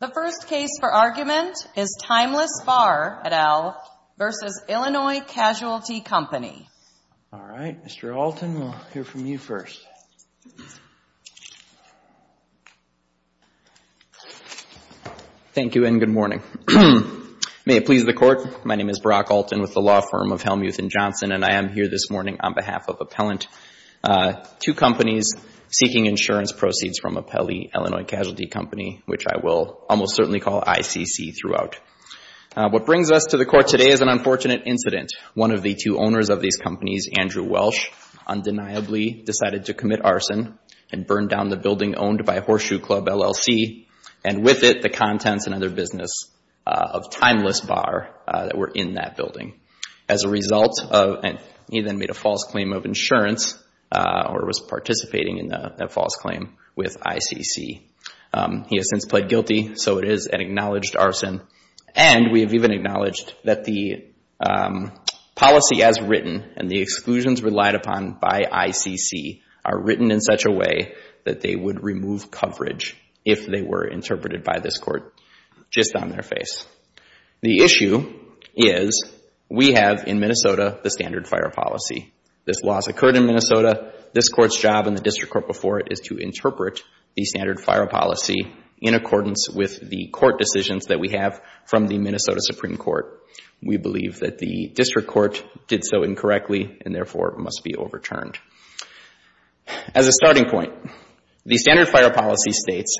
The first case for argument is Timeless Bar, et al., v. Illinois Casualty Company. All right, Mr. Alton, we'll hear from you first. Thank you and good morning. May it please the Court, my name is Brock Alton with the law firm of Hellmuth & Johnson, and I am here this morning on behalf of Appellant. Two companies seeking insurance proceeds from Appellee, Illinois Casualty Company, which I will almost certainly call ICC throughout. What brings us to the Court today is an unfortunate incident. One of the two owners of these companies, Andrew Welsh, undeniably decided to commit arson and burn down the building owned by Horseshoe Club, LLC, and with it the contents and other business of Timeless Bar that were in that building. As a result, he then made a false claim of insurance or was participating in that false claim with ICC. He has since pled guilty, so it is an acknowledged arson. And we have even acknowledged that the policy as written and the exclusions relied upon by ICC are written in such a way that they would remove coverage if they were interpreted by this Court just on their face. The issue is we have in Minnesota the standard fire policy. This loss occurred in Minnesota. This Court's job in the District Court before it is to interpret the standard fire policy in accordance with the court decisions that we have from the Minnesota Supreme Court. We believe that the District Court did so incorrectly and therefore must be overturned. As a starting point, the standard fire policy states,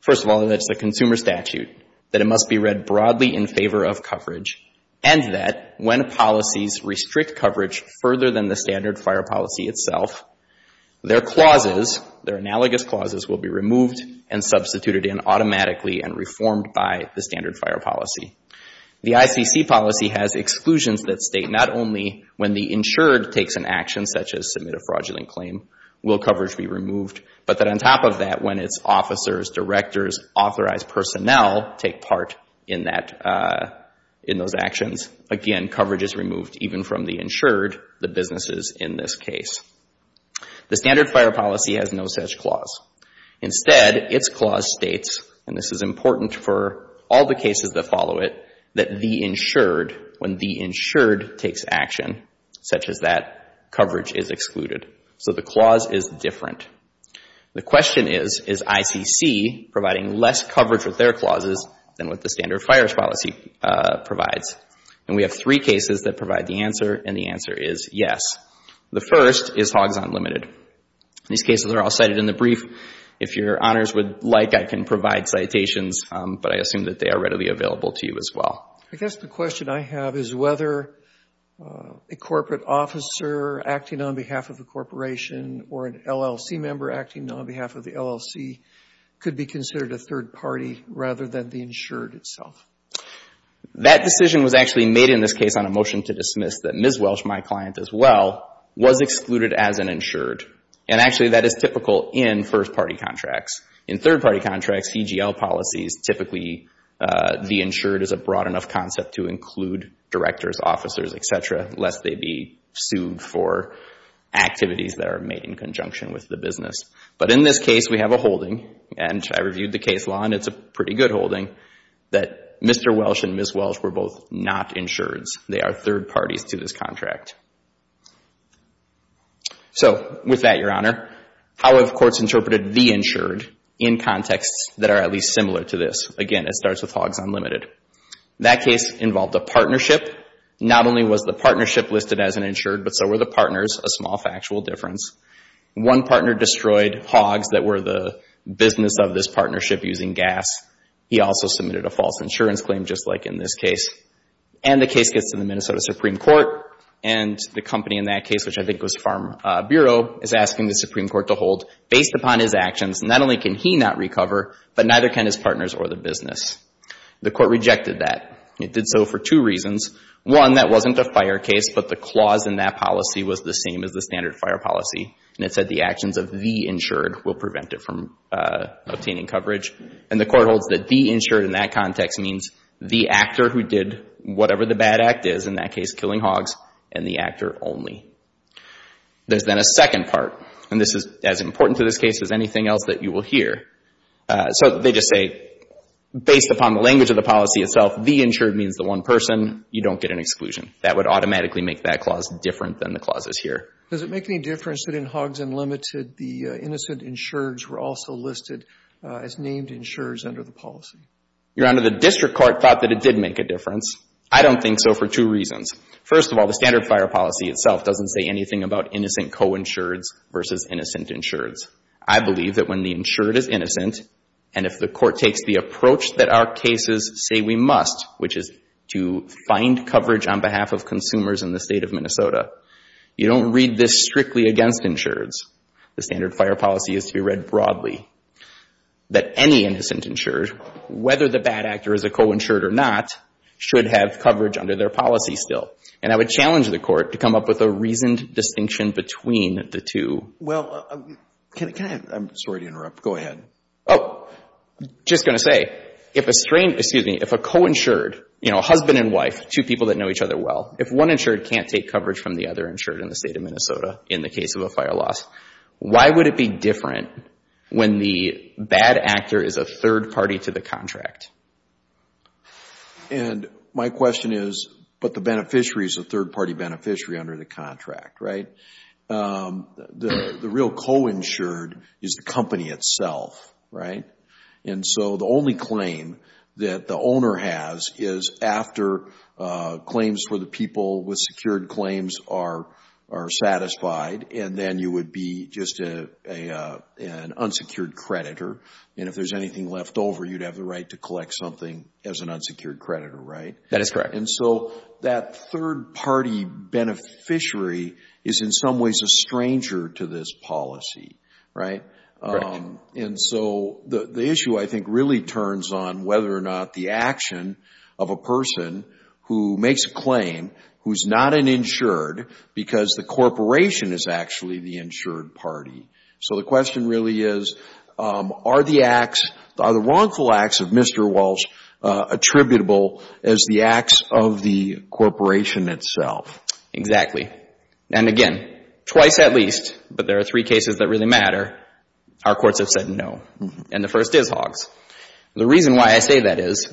first of all, that it's a consumer statute, that it must be read broadly in favor of coverage, and that when policies restrict coverage further than the standard fire policy itself, their clauses, their analogous clauses, will be removed and substituted in automatically and reformed by the standard fire policy. The ICC policy has exclusions that state not only when the insured takes an action such as submit a fraudulent claim, will coverage be removed, but that on top of that, when its officers, directors, authorized personnel take part in that, in those actions, again, coverage is removed even from the insured, the businesses in this case. The standard fire policy has no such clause. Instead, its clause states, and this is important for all the cases that follow it, that the insured, when the insured takes action such as that, coverage is excluded. So the clause is different. The question is, is ICC providing less coverage with their clauses than what the standard fire policy provides? And we have three cases that provide the answer, and the answer is yes. The first is Hoggs Unlimited. These cases are all cited in the brief. If your honors would like, I can provide citations, but I assume that they are readily available to you as well. I guess the question I have is whether a corporate officer acting on behalf of a corporation or an LLC member acting on behalf of the LLC could be considered a third party rather than the insured itself. That decision was actually made in this case on a motion to dismiss that Ms. Welsh, my client as well, was excluded as an insured, and actually that is typical in first-party contracts. In third-party contracts, CGL policies, typically the insured is a broad enough concept to include directors, officers, et cetera, lest they be sued for activities that are made in conjunction with the business. But in this case, we have a holding, and I reviewed the case law, and it's a pretty good holding, that Mr. Welsh and Ms. Welsh were both not insureds. They are third parties to this contract. So with that, your honor, how have courts interpreted the insured in contexts that are at least similar to this? Again, it starts with Hoggs Unlimited. That case involved a partnership. Not only was the partnership listed as an insured, but so were the partners, a small factual difference. One partner destroyed Hoggs that were the business of this partnership using gas. He also submitted a false insurance claim just like in this case. And the case gets to the Minnesota Supreme Court, and the company in that case, which I think was Farm Bureau, is asking the Supreme Court to hold, based upon his actions, not only can he not recover, but neither can his partners or the business. The court rejected that. It did so for two reasons. One, that wasn't a fire case, but the clause in that policy was the same as the standard fire policy, and it said the actions of the insured will prevent it from obtaining coverage. And the court holds that the insured in that context means the actor who did whatever the bad act is, in that case killing Hoggs, and the actor only. There's then a second part, and this is as important to this case as anything else that you will hear. So they just say, based upon the language of the policy itself, the insured means the one person. You don't get an exclusion. That would automatically make that clause different than the clauses here. Does it make any difference that in Hoggs Unlimited, the innocent insureds were also listed as named insureds under the policy? Your Honor, the district court thought that it did make a difference. I don't think so for two reasons. First of all, the standard fire policy itself doesn't say anything about innocent coinsureds versus innocent insureds. I believe that when the insured is innocent, and if the court takes the approach that our cases say we must, which is to find coverage on behalf of consumers in the State of Minnesota, you don't read this strictly against insureds. The standard fire policy is to be read broadly. That any innocent insured, whether the bad actor is a coinsured or not, should have coverage under their policy still. And I would challenge the court to come up with a reasoned distinction between the two. Well, can I have, I'm sorry to interrupt. Go ahead. Oh, just going to say, if a coinsured, you know, husband and wife, two people that know each other well, if one insured can't take coverage from the other insured in the State of Minnesota in the case of a fire loss, why would it be different when the bad actor is a third party to the And my question is, but the beneficiary is a third party beneficiary under the contract, right? The real coinsured is the company itself, right? And so the only claim that the owner has is after claims for the people with secured claims are satisfied, and then you would be just an unsecured creditor. And if there's anything left over, you'd have the right to collect something as an unsecured creditor, right? That is correct. And so that third party beneficiary is in some ways a stranger to this policy, right? And so the issue I think really turns on whether or not the action of a who's not an insured because the corporation is actually the insured party. So the question really is, are the acts, are the wrongful acts of Mr. Walsh attributable as the acts of the corporation itself? Exactly. And again, twice at least, but there are three cases that really matter. Our courts have said no. And the first is Hoggs. The reason why I say that is,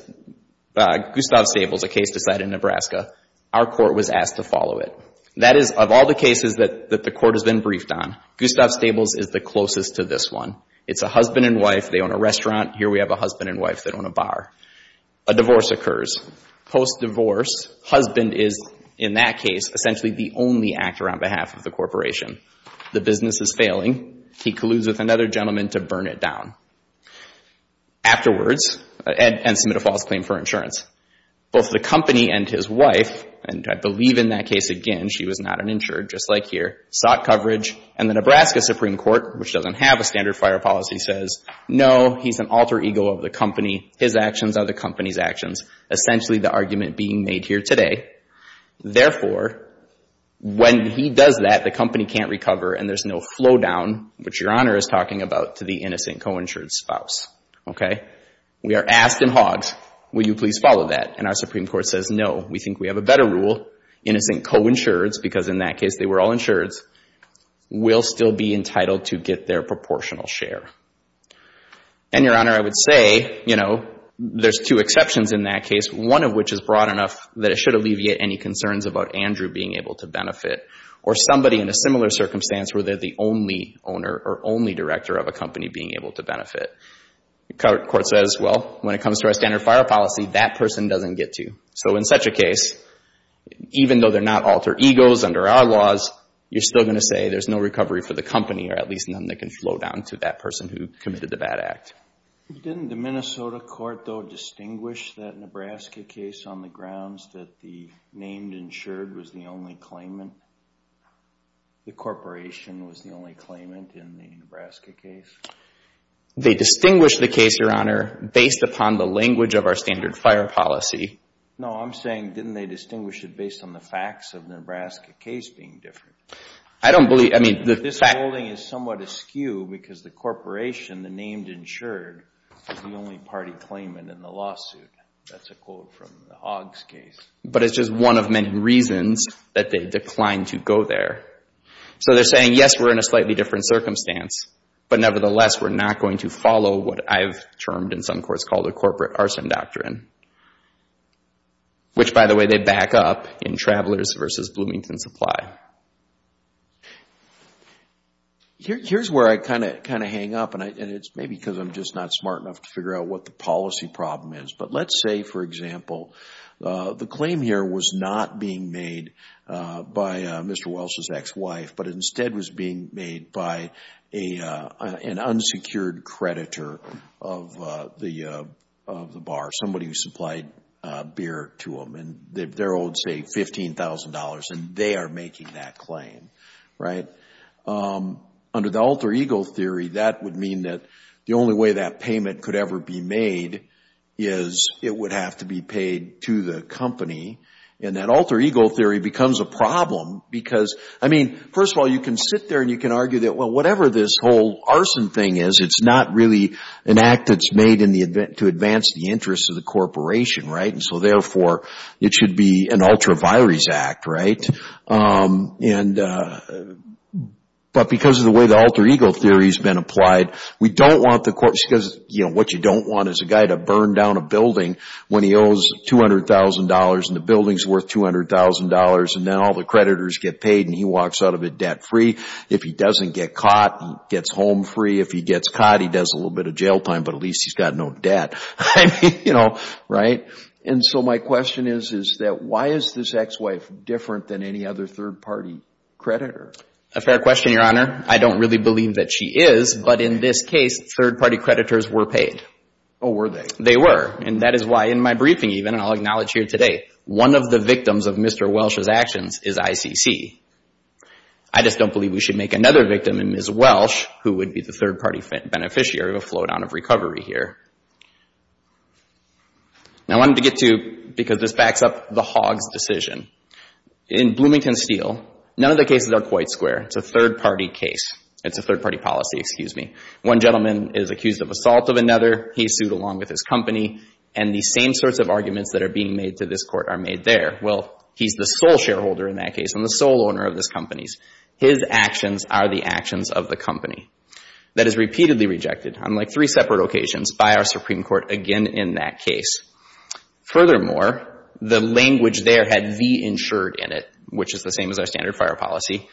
Gustav Stables, a case decided in Nebraska, our court was asked to follow it. That is, of all the cases that the court has been briefed on, Gustav Stables is the closest to this one. It's a husband and wife. They own a restaurant. Here we have a husband and wife that own a bar. A divorce occurs. Post-divorce, husband is, in that case, essentially the only actor on behalf of the corporation. The business is failing. He colludes with another gentleman to burn it down. Afterwards, and submit a false claim for insurance. Both the company and his wife, and I believe in that case, again, she was not an insurer, just like here, sought coverage. And the Nebraska Supreme Court, which doesn't have a standard fire policy, says, no, he's an alter ego of the company. His actions are the company's actions, essentially the argument being made here today. Therefore, when he does that, the company can't recover, and there's no flow down, which Your Honor is talking about, to the innocent co-insured spouse. Okay? We are asked in Hoggs, will you please follow that? And our Supreme Court says, no, we think we have a better rule. Innocent co-insureds, because in that case they were all insureds, will still be entitled to get their proportional share. And, Your Honor, I would say, you know, there's two exceptions in that case, one of which is broad enough that it should alleviate any concerns about Andrew being able to benefit, or somebody in a similar circumstance where they're the only owner or only director of a company being able to benefit. The court says, well, when it comes to our standard fire policy, that person doesn't get to. So in such a case, even though they're not alter egos under our laws, you're still going to say there's no recovery for the company, or at least none that can flow down to that person who committed the bad act. Didn't the Minnesota court, though, distinguish that Nebraska case on the grounds that the named insured was the only claimant? The corporation was the only claimant in the Nebraska case? They distinguished the case, Your Honor, based upon the language of our standard fire policy. No, I'm saying didn't they distinguish it based on the facts of the Nebraska case being different? I don't believe, I mean, the facts... This ruling is somewhat askew because the corporation, the named insured, is the only party claimant in the lawsuit. That's a quote from the Hogg's case. But it's just one of many reasons that they declined to go there. So they're saying, yes, we're in a slightly different circumstance, but nevertheless, we're not going to follow what I've termed in some courts called a corporate arson doctrine, which, by the way, they back up in Travelers v. Bloomington Supply. Here's where I kind of hang up, and it's maybe because I'm just not smart enough to figure out what the policy problem is. But let's say, for example, the claim here was not being made by Mr. Welch's ex-wife, but instead was being made by an unsecured creditor of the bar, somebody who supplied beer to them, and they're owed, say, $15,000, and they are making that claim, right? Under the alter ego theory, that would mean that the only way that payment could ever be made is it would have to be paid to the company, and that alter ego theory becomes a problem because, I mean, first of all, you can sit there and you can argue that, well, whatever this whole arson thing is, it's not really an act that's made to advance the interests of the corporation, right? And so, therefore, it should be an ultra vires act, right? But because of the way the alter ego theory has been applied, we don't want the court, because, you know, what you don't want is a guy to burn down a building when he owes $200,000 and the building's worth $200,000, and then all the creditors get paid and he walks out of it debt-free. If he doesn't get caught, he gets home free. If he gets caught, he does a little bit of jail time, but at least he's got no debt. I mean, you know, right? And so my question is, is that why is this ex-wife different than any other third-party creditor? A fair question, Your Honor. I don't really believe that she is, but in this case, third-party creditors were paid. Oh, were they? They were, and that is why in my briefing even, and I'll acknowledge here today, one of the victims of Mr. Welsh's actions is ICC. I just don't believe we should make another victim in Ms. Welsh, who would be the third-party beneficiary of a flowdown of recovery here. Now, I wanted to get to, because this backs up the Hogg's decision. In Bloomington Steel, none of the cases are quite square. It's a third-party case. It's a third-party policy, excuse me. One gentleman is accused of assault of another. He's sued along with his company, and the same sorts of arguments that are being made to this Court are made there. Well, he's the sole shareholder in that case and the sole owner of this company. His actions are the actions of the company. That is repeatedly rejected, unlike three separate occasions, by our Supreme Court again in that case. Furthermore, the language there had the insured in it, which is the same as our standard fire policy,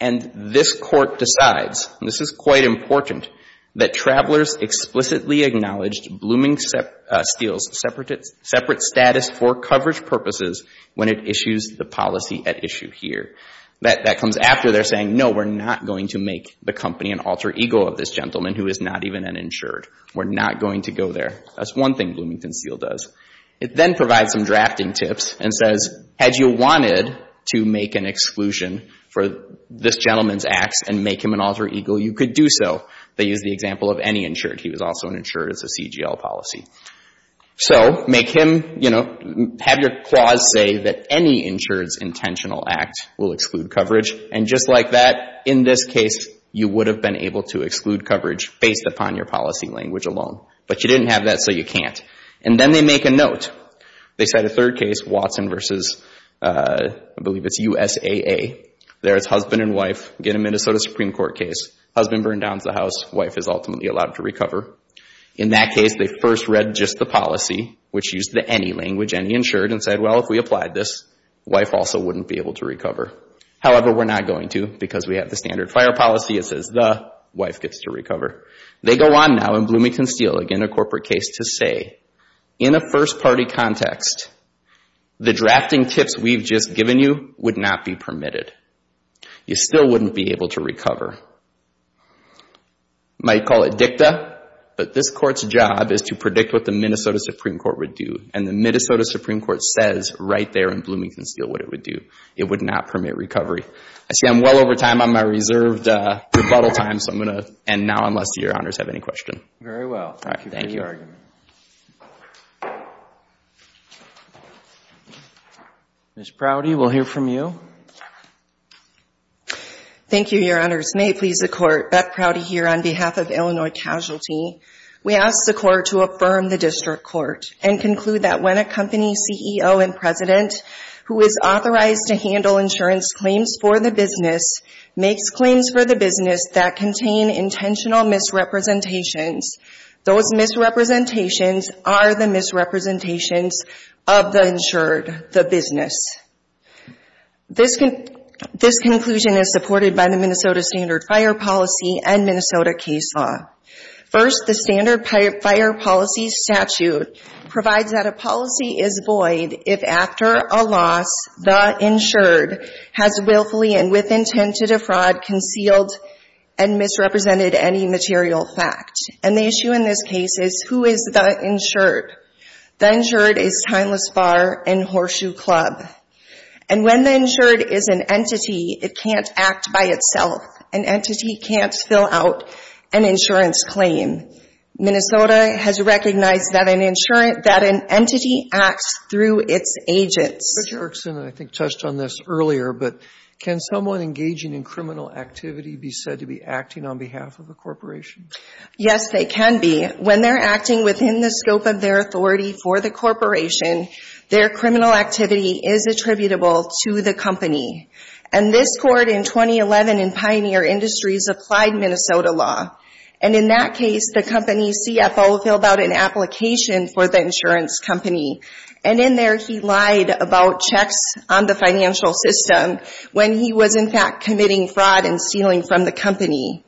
and this Court decides, and this is quite important, that travelers explicitly acknowledge Bloomington Steel's separate status for coverage purposes when it issues the policy at issue here. That comes after they're saying, no, we're not going to make the company an alter ego of this gentleman who is not even an insured. We're not going to go there. That's one thing Bloomington Steel does. It then provides some drafting tips and says, had you wanted to make an exclusion for this gentleman's acts and make him an alter ego, you could do so. They use the example of any insured. He was also an insured. It's a CGL policy. So make him, you know, have your clause say that any insured's intentional act will exclude coverage, and just like that, in this case, you would have been able to exclude coverage based upon your policy language alone. But you didn't have that, so you can't. And then they make a note. They cite a third case, Watson versus, I believe it's USAA. There it's husband and wife. Again, a Minnesota Supreme Court case. Husband burned down the house. Wife is ultimately allowed to recover. In that case, they first read just the policy, which used the any language, any insured, and said, well, if we applied this, wife also wouldn't be able to recover. However, we're not going to because we have the standard fire policy. It says the wife gets to recover. They go on now in Bloomington Steel. Again, a corporate case to say, in a first-party context, the drafting tips we've just given you would not be permitted. You still wouldn't be able to recover. You might call it dicta, but this court's job is to predict what the Minnesota Supreme Court would do, and the Minnesota Supreme Court says right there in Bloomington Steel what it would do. It would not permit recovery. I see I'm well over time on my reserved rebuttal time, so I'm going to end now unless your honors have any questions. Thank you. Very well. Thank you for the argument. Ms. Prouty, we'll hear from you. Thank you, your honors. May it please the Court, Beth Prouty here on behalf of Illinois Casualty. We ask the Court to affirm the district court and conclude that when a company CEO and president who is authorized to handle insurance claims for the business makes claims for the business that contain intentional misrepresentations, those misrepresentations are the misrepresentations of the insured, the business. This conclusion is supported by the Minnesota Standard Fire Policy and Minnesota case law. First, the Standard Fire Policy statute provides that a policy is void if after a loss the insured has willfully and with intent to defraud, concealed, and misrepresented any material fact. And the issue in this case is who is the insured? The insured is Timeless Bar and Horseshoe Club. And when the insured is an entity, it can't act by itself. An entity can't fill out an insurance claim. Minnesota has recognized that an entity acts through its agents. Mr. Erickson, I think, touched on this earlier, but can someone engaging in criminal activity be said to be acting on behalf of a corporation? Yes, they can be. When they're acting within the scope of their authority for the corporation, their criminal activity is attributable to the company. And this Court in 2011 in Pioneer Industries applied Minnesota law. And in that case, the company's CFO filled out an application for the insurance company. And in there he lied about checks on the financial system when he was in fact committing fraud and stealing from the company.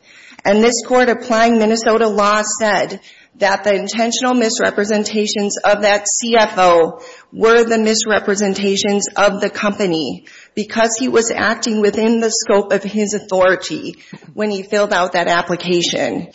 And this Court applying Minnesota law said that the intentional misrepresentations of that CFO were the misrepresentations of the company because he was acting within the scope of his authority when he filled out that application.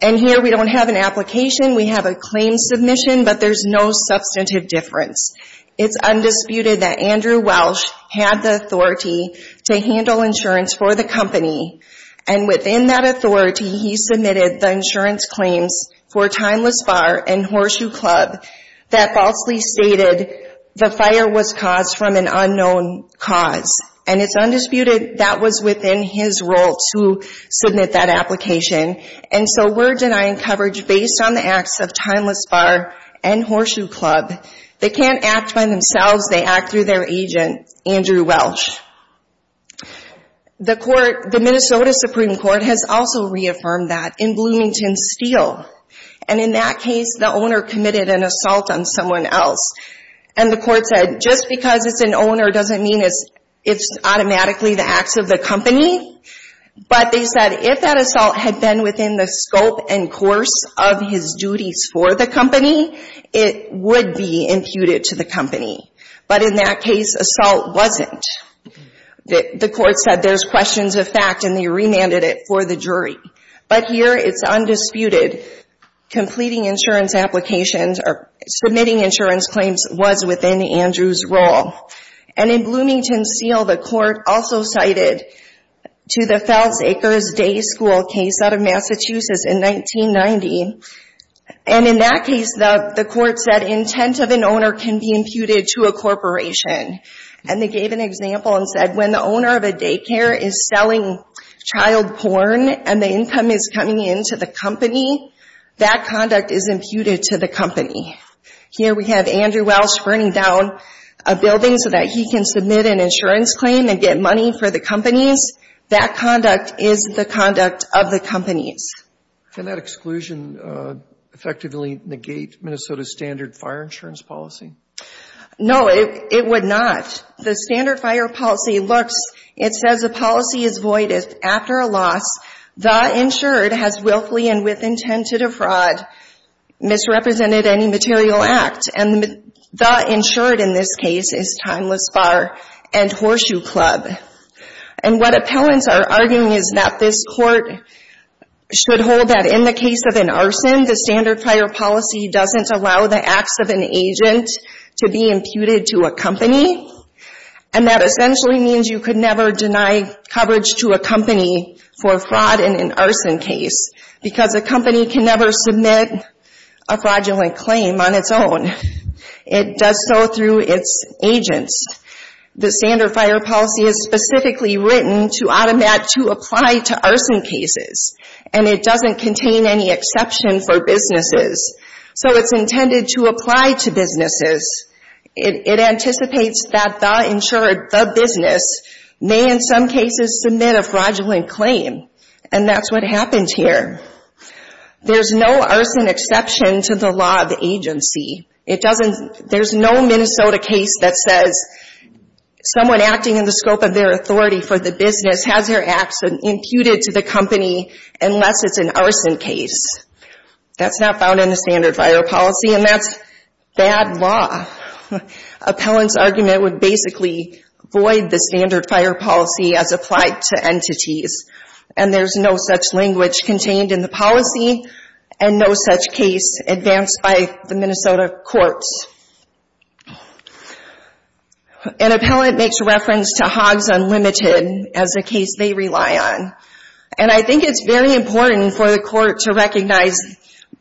And here we don't have an application. We have a claim submission, but there's no substantive difference. It's undisputed that Andrew Welsh had the authority to handle insurance for the company, and within that authority, he submitted the insurance claims for Timeless Bar and Horseshoe Club that falsely stated the fire was caused from an unknown cause. And it's undisputed that was within his role to submit that application. And so we're denying coverage based on the acts of Timeless Bar and Horseshoe Club. They can't act by themselves. They act through their agent, Andrew Welsh. The court, the Minnesota Supreme Court, has also reaffirmed that in Bloomington Steel. And in that case, the owner committed an assault on someone else. And the court said just because it's an owner doesn't mean it's automatically the acts of the company. But they said if that assault had been within the scope and course of his duties for the company, it would be imputed to the company. But in that case, assault wasn't. The court said there's questions of fact, and they remanded it for the jury. But here it's undisputed. Completing insurance applications or submitting insurance claims was within Andrew's role. And in Bloomington Steel, the court also cited to the Fells Acres Day School case out of Massachusetts in 1990. And in that case, the court said intent of an owner can be imputed to a corporation. And they gave an example and said when the owner of a daycare is selling child porn and the income is coming into the company, that conduct is imputed to the company. Here we have Andrew Welch burning down a building so that he can submit an insurance claim and get money for the companies. That conduct is the conduct of the companies. Can that exclusion effectively negate Minnesota's standard fire insurance policy? No, it would not. The standard fire policy looks, it says the policy is void after a loss. The insured has willfully and with intent to defraud misrepresented any material act. And the insured in this case is Timeless Bar and Horseshoe Club. And what appellants are arguing is that this court should hold that in the case of an arson, the standard fire policy doesn't allow the acts of an agent to be imputed to a company. And that essentially means you could never deny coverage to a company for fraud in an arson case because a company can never submit a fraudulent claim on its own. It does so through its agents. The standard fire policy is specifically written to automate to apply to arson cases. And it doesn't contain any exception for businesses. So it's intended to apply to businesses. It anticipates that the insured, the business, may in some cases submit a fraudulent claim. And that's what happened here. There's no arson exception to the law of the agency. There's no Minnesota case that says someone acting in the scope of their authority for the business has their acts imputed to the company unless it's an arson case. That's not found in the standard fire policy, and that's bad law. Appellants' argument would basically void the standard fire policy as applied to entities. And there's no such language contained in the policy and no such case advanced by the Minnesota courts. An appellant makes reference to Hoggs Unlimited as a case they rely on. And I think it's very important for the court to recognize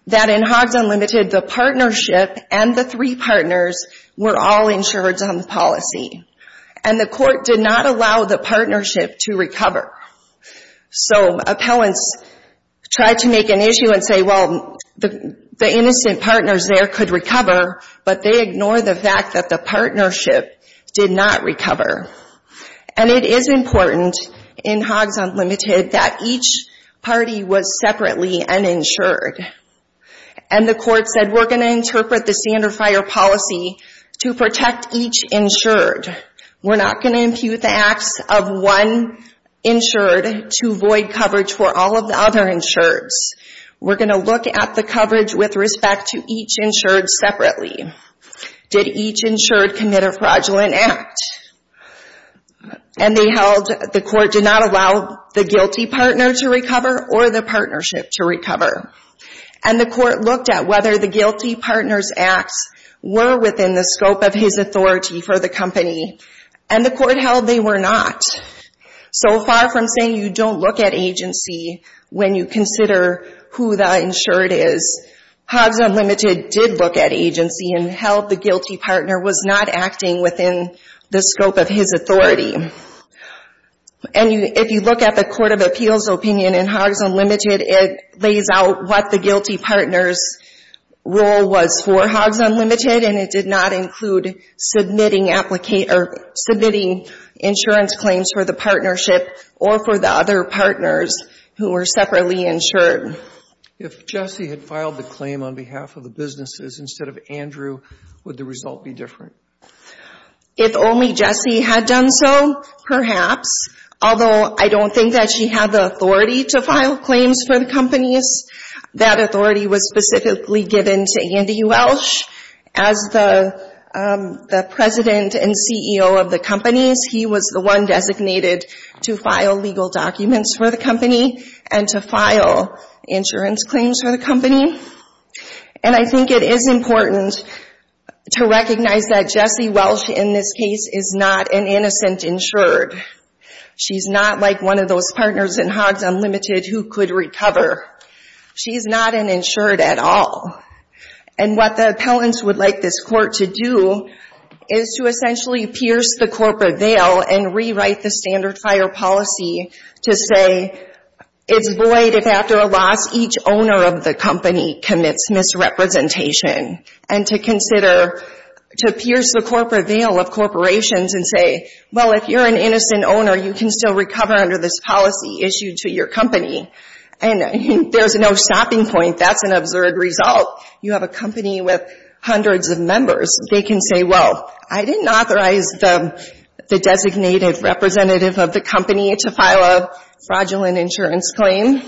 that in Hoggs Unlimited, the partnership and the three partners were all insured on the policy. And the court did not allow the partnership to recover. So appellants tried to make an issue and say, well, the innocent partners there could recover, but they ignore the fact that the partnership did not recover. And it is important in Hoggs Unlimited that each party was separately uninsured. And the court said, we're going to interpret the standard fire policy to protect each insured. We're not going to impute the acts of one insured to void coverage for all of the other insureds. We're going to look at the coverage with respect to each insured separately. Did each insured commit a fraudulent act? And they held the court did not allow the guilty partner to recover or the partnership to recover. And the court looked at whether the guilty partner's acts were within the scope of his authority for the company. And the court held they were not. So far from saying you don't look at agency when you consider who the insured is, Hoggs Unlimited did look at agency and held the guilty partner was not acting within the scope of his authority. And if you look at the Court of Appeals opinion in Hoggs Unlimited, it lays out what the guilty partner's role was for Hoggs Unlimited, and it did not include submitting insurance claims for the partnership or for the other partners who were separately insured. If Jessie had filed the claim on behalf of the businesses instead of Andrew, would the result be different? If only Jessie had done so, perhaps, although I don't think that she had the authority to file claims for the companies. That authority was specifically given to Andy Welsh as the president and CEO of the companies. He was the one designated to file legal documents for the company and to file insurance claims for the company. And I think it is important to recognize that Jessie Welsh in this case is not an innocent insured. She's not like one of those partners in Hoggs Unlimited who could recover. She's not an insured at all. And what the appellants would like this court to do is to essentially pierce the corporate veil and rewrite the standard fire policy to say, it's void if after a loss each owner of the company commits misrepresentation, and to consider, to pierce the corporate veil of corporations and say, well, if you're an innocent owner, you can still recover under this policy issued to your company. And there's no stopping point. That's an absurd result. You have a company with hundreds of members. They can say, well, I didn't authorize the designated representative of the company to file a fraudulent insurance claim.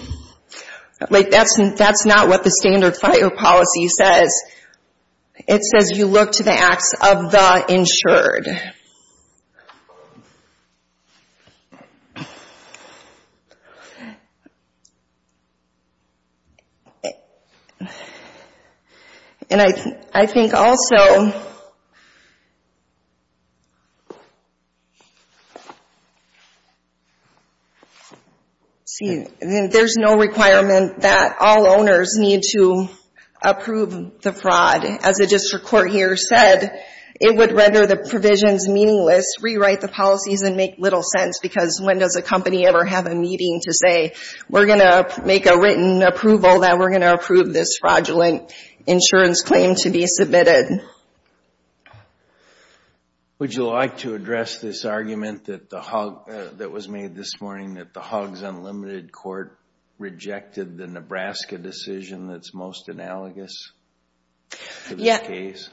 Like, that's not what the standard fire policy says. It says you look to the acts of the insured. And I think also, see, there's no requirement that all owners need to approve the fraud. As the district court here said, it would render the provisions meaningless, rewrite the policies, and make little sense because when does a company ever have a meeting to say, we're going to make a written approval that we're going to approve this fraudulent insurance claim to be submitted. Would you like to address this argument that was made this morning, that the Huggs Unlimited Court rejected the Nebraska decision that's most analogous to this case?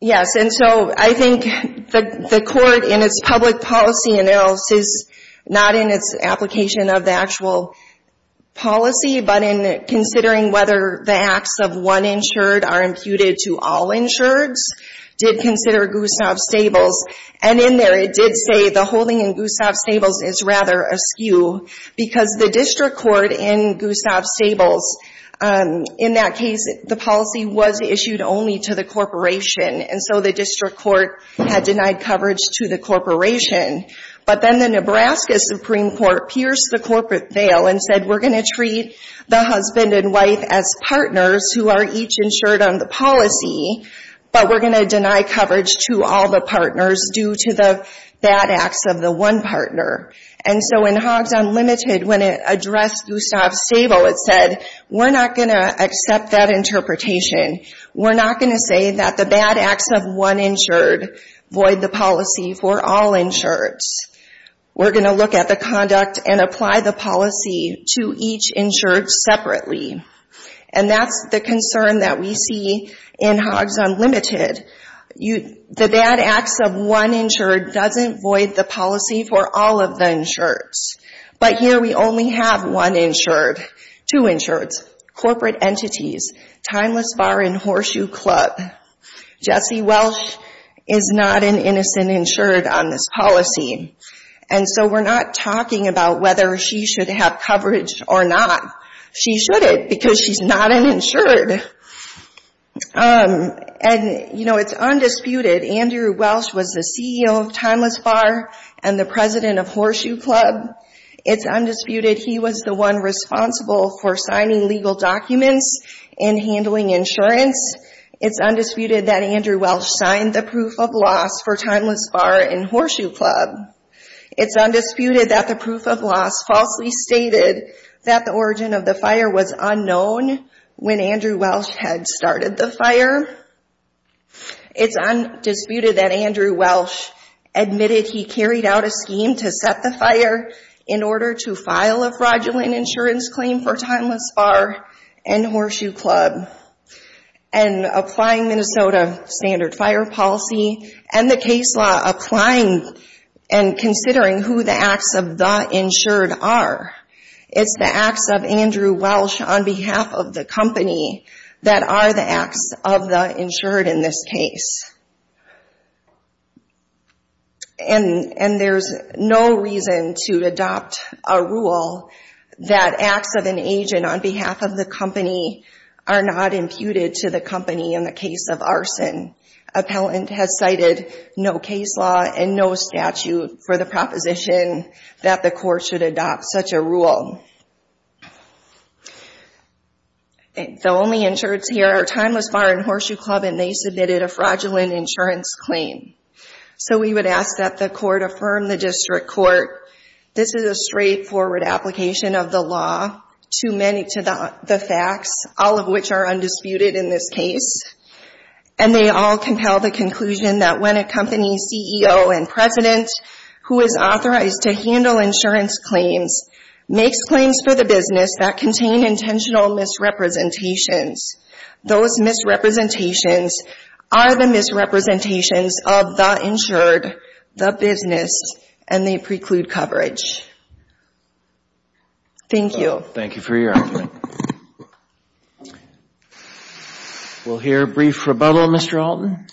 Yes, and so I think the court, in its public policy analysis, not in its application of the actual policy, but in considering whether the acts of one insured are imputed to all insureds, did consider Gustav Stables. And in there, it did say the holding in Gustav Stables is rather askew because the district court in Gustav Stables, in that case, the policy was issued only to the corporation. And so the district court had denied coverage to the corporation. But then the Nebraska Supreme Court pierced the corporate veil and said, we're going to treat the husband and wife as partners who are each insured on the policy, but we're going to deny coverage to all the partners due to the bad acts of the one partner. And so in Huggs Unlimited, when it addressed Gustav Stable, it said, we're not going to accept that interpretation. We're not going to say that the bad acts of one insured void the policy for all insureds. We're going to look at the conduct and apply the policy to each insured separately. And that's the concern that we see in Huggs Unlimited. The bad acts of one insured doesn't void the policy for all of the insureds. But here we only have one insured, two insureds, corporate entities, Timeless Bar and Horseshoe Club. Jessie Welsh is not an innocent insured on this policy. And so we're not talking about whether she should have coverage or not. She shouldn't because she's not an insured. And, you know, it's undisputed. It's undisputed that Andrew Welsh was the CEO of Timeless Bar and the president of Horseshoe Club. It's undisputed he was the one responsible for signing legal documents and handling insurance. It's undisputed that Andrew Welsh signed the proof of loss for Timeless Bar and Horseshoe Club. It's undisputed that the proof of loss falsely stated that the origin of the fire was unknown when Andrew Welsh had started the fire. It's undisputed that Andrew Welsh admitted he carried out a scheme to set the fire in order to file a fraudulent insurance claim for Timeless Bar and Horseshoe Club. And applying Minnesota standard fire policy and the case law, applying and considering who the acts of the insured are, it's the acts of Andrew Welsh on behalf of the company that are the acts of the insured in this case. And there's no reason to adopt a rule that acts of an agent on behalf of the company are not imputed to the company in the case of arson. Appellant has cited no case law and no statute for the proposition that the court should adopt such a rule. The only insureds here are Timeless Bar and Horseshoe Club and they submitted a fraudulent insurance claim. So we would ask that the court affirm the district court. This is a straightforward application of the law, too many to the facts, all of which are undisputed in this case. And they all compel the conclusion that when a company's CEO and president who is authorized to handle insurance claims makes claims for the business that contain intentional misrepresentations, those misrepresentations are the misrepresentations of the insured, the business, and they preclude coverage. Thank you. Well, thank you for your argument. We'll hear a brief rebuttal, Mr. Alton.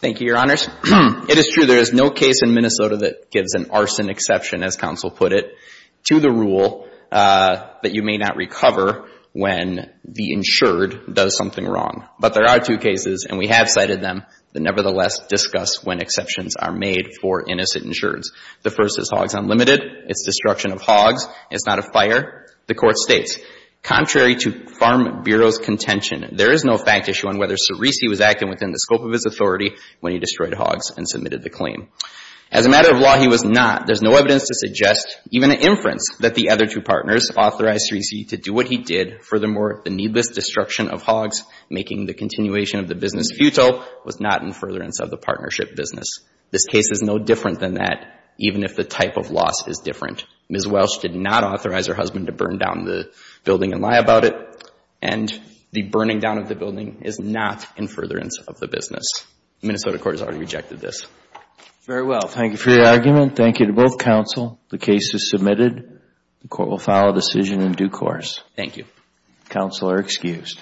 Thank you, Your Honors. It is true there is no case in Minnesota that gives an arson exception, as counsel put it, to the rule that you may not recover when the insured does something wrong. But there are two cases, and we have cited them, that nevertheless discuss when exceptions are made for innocent insureds. The first is Hogs Unlimited. It's destruction of hogs. It's not a fire. The court states, contrary to Farm Bureau's contention, there is no fact issue on whether Cerisi was acting within the scope of his authority when he destroyed hogs and submitted the claim. As a matter of law, he was not. There's no evidence to suggest, even at inference, that the other two partners authorized Cerisi to do what he did. Furthermore, the needless destruction of hogs, making the continuation of the business futile, was not in furtherance of the partnership business. This case is no different than that, even if the type of loss is different. Ms. Welsh did not authorize her husband to burn down the building and lie about it, and the burning down of the building is not in furtherance of the business. Minnesota court has already rejected this. Very well. Thank you for your argument. Thank you to both counsel. The case is submitted. The court will file a decision in due course. Thank you. Counsel are excused.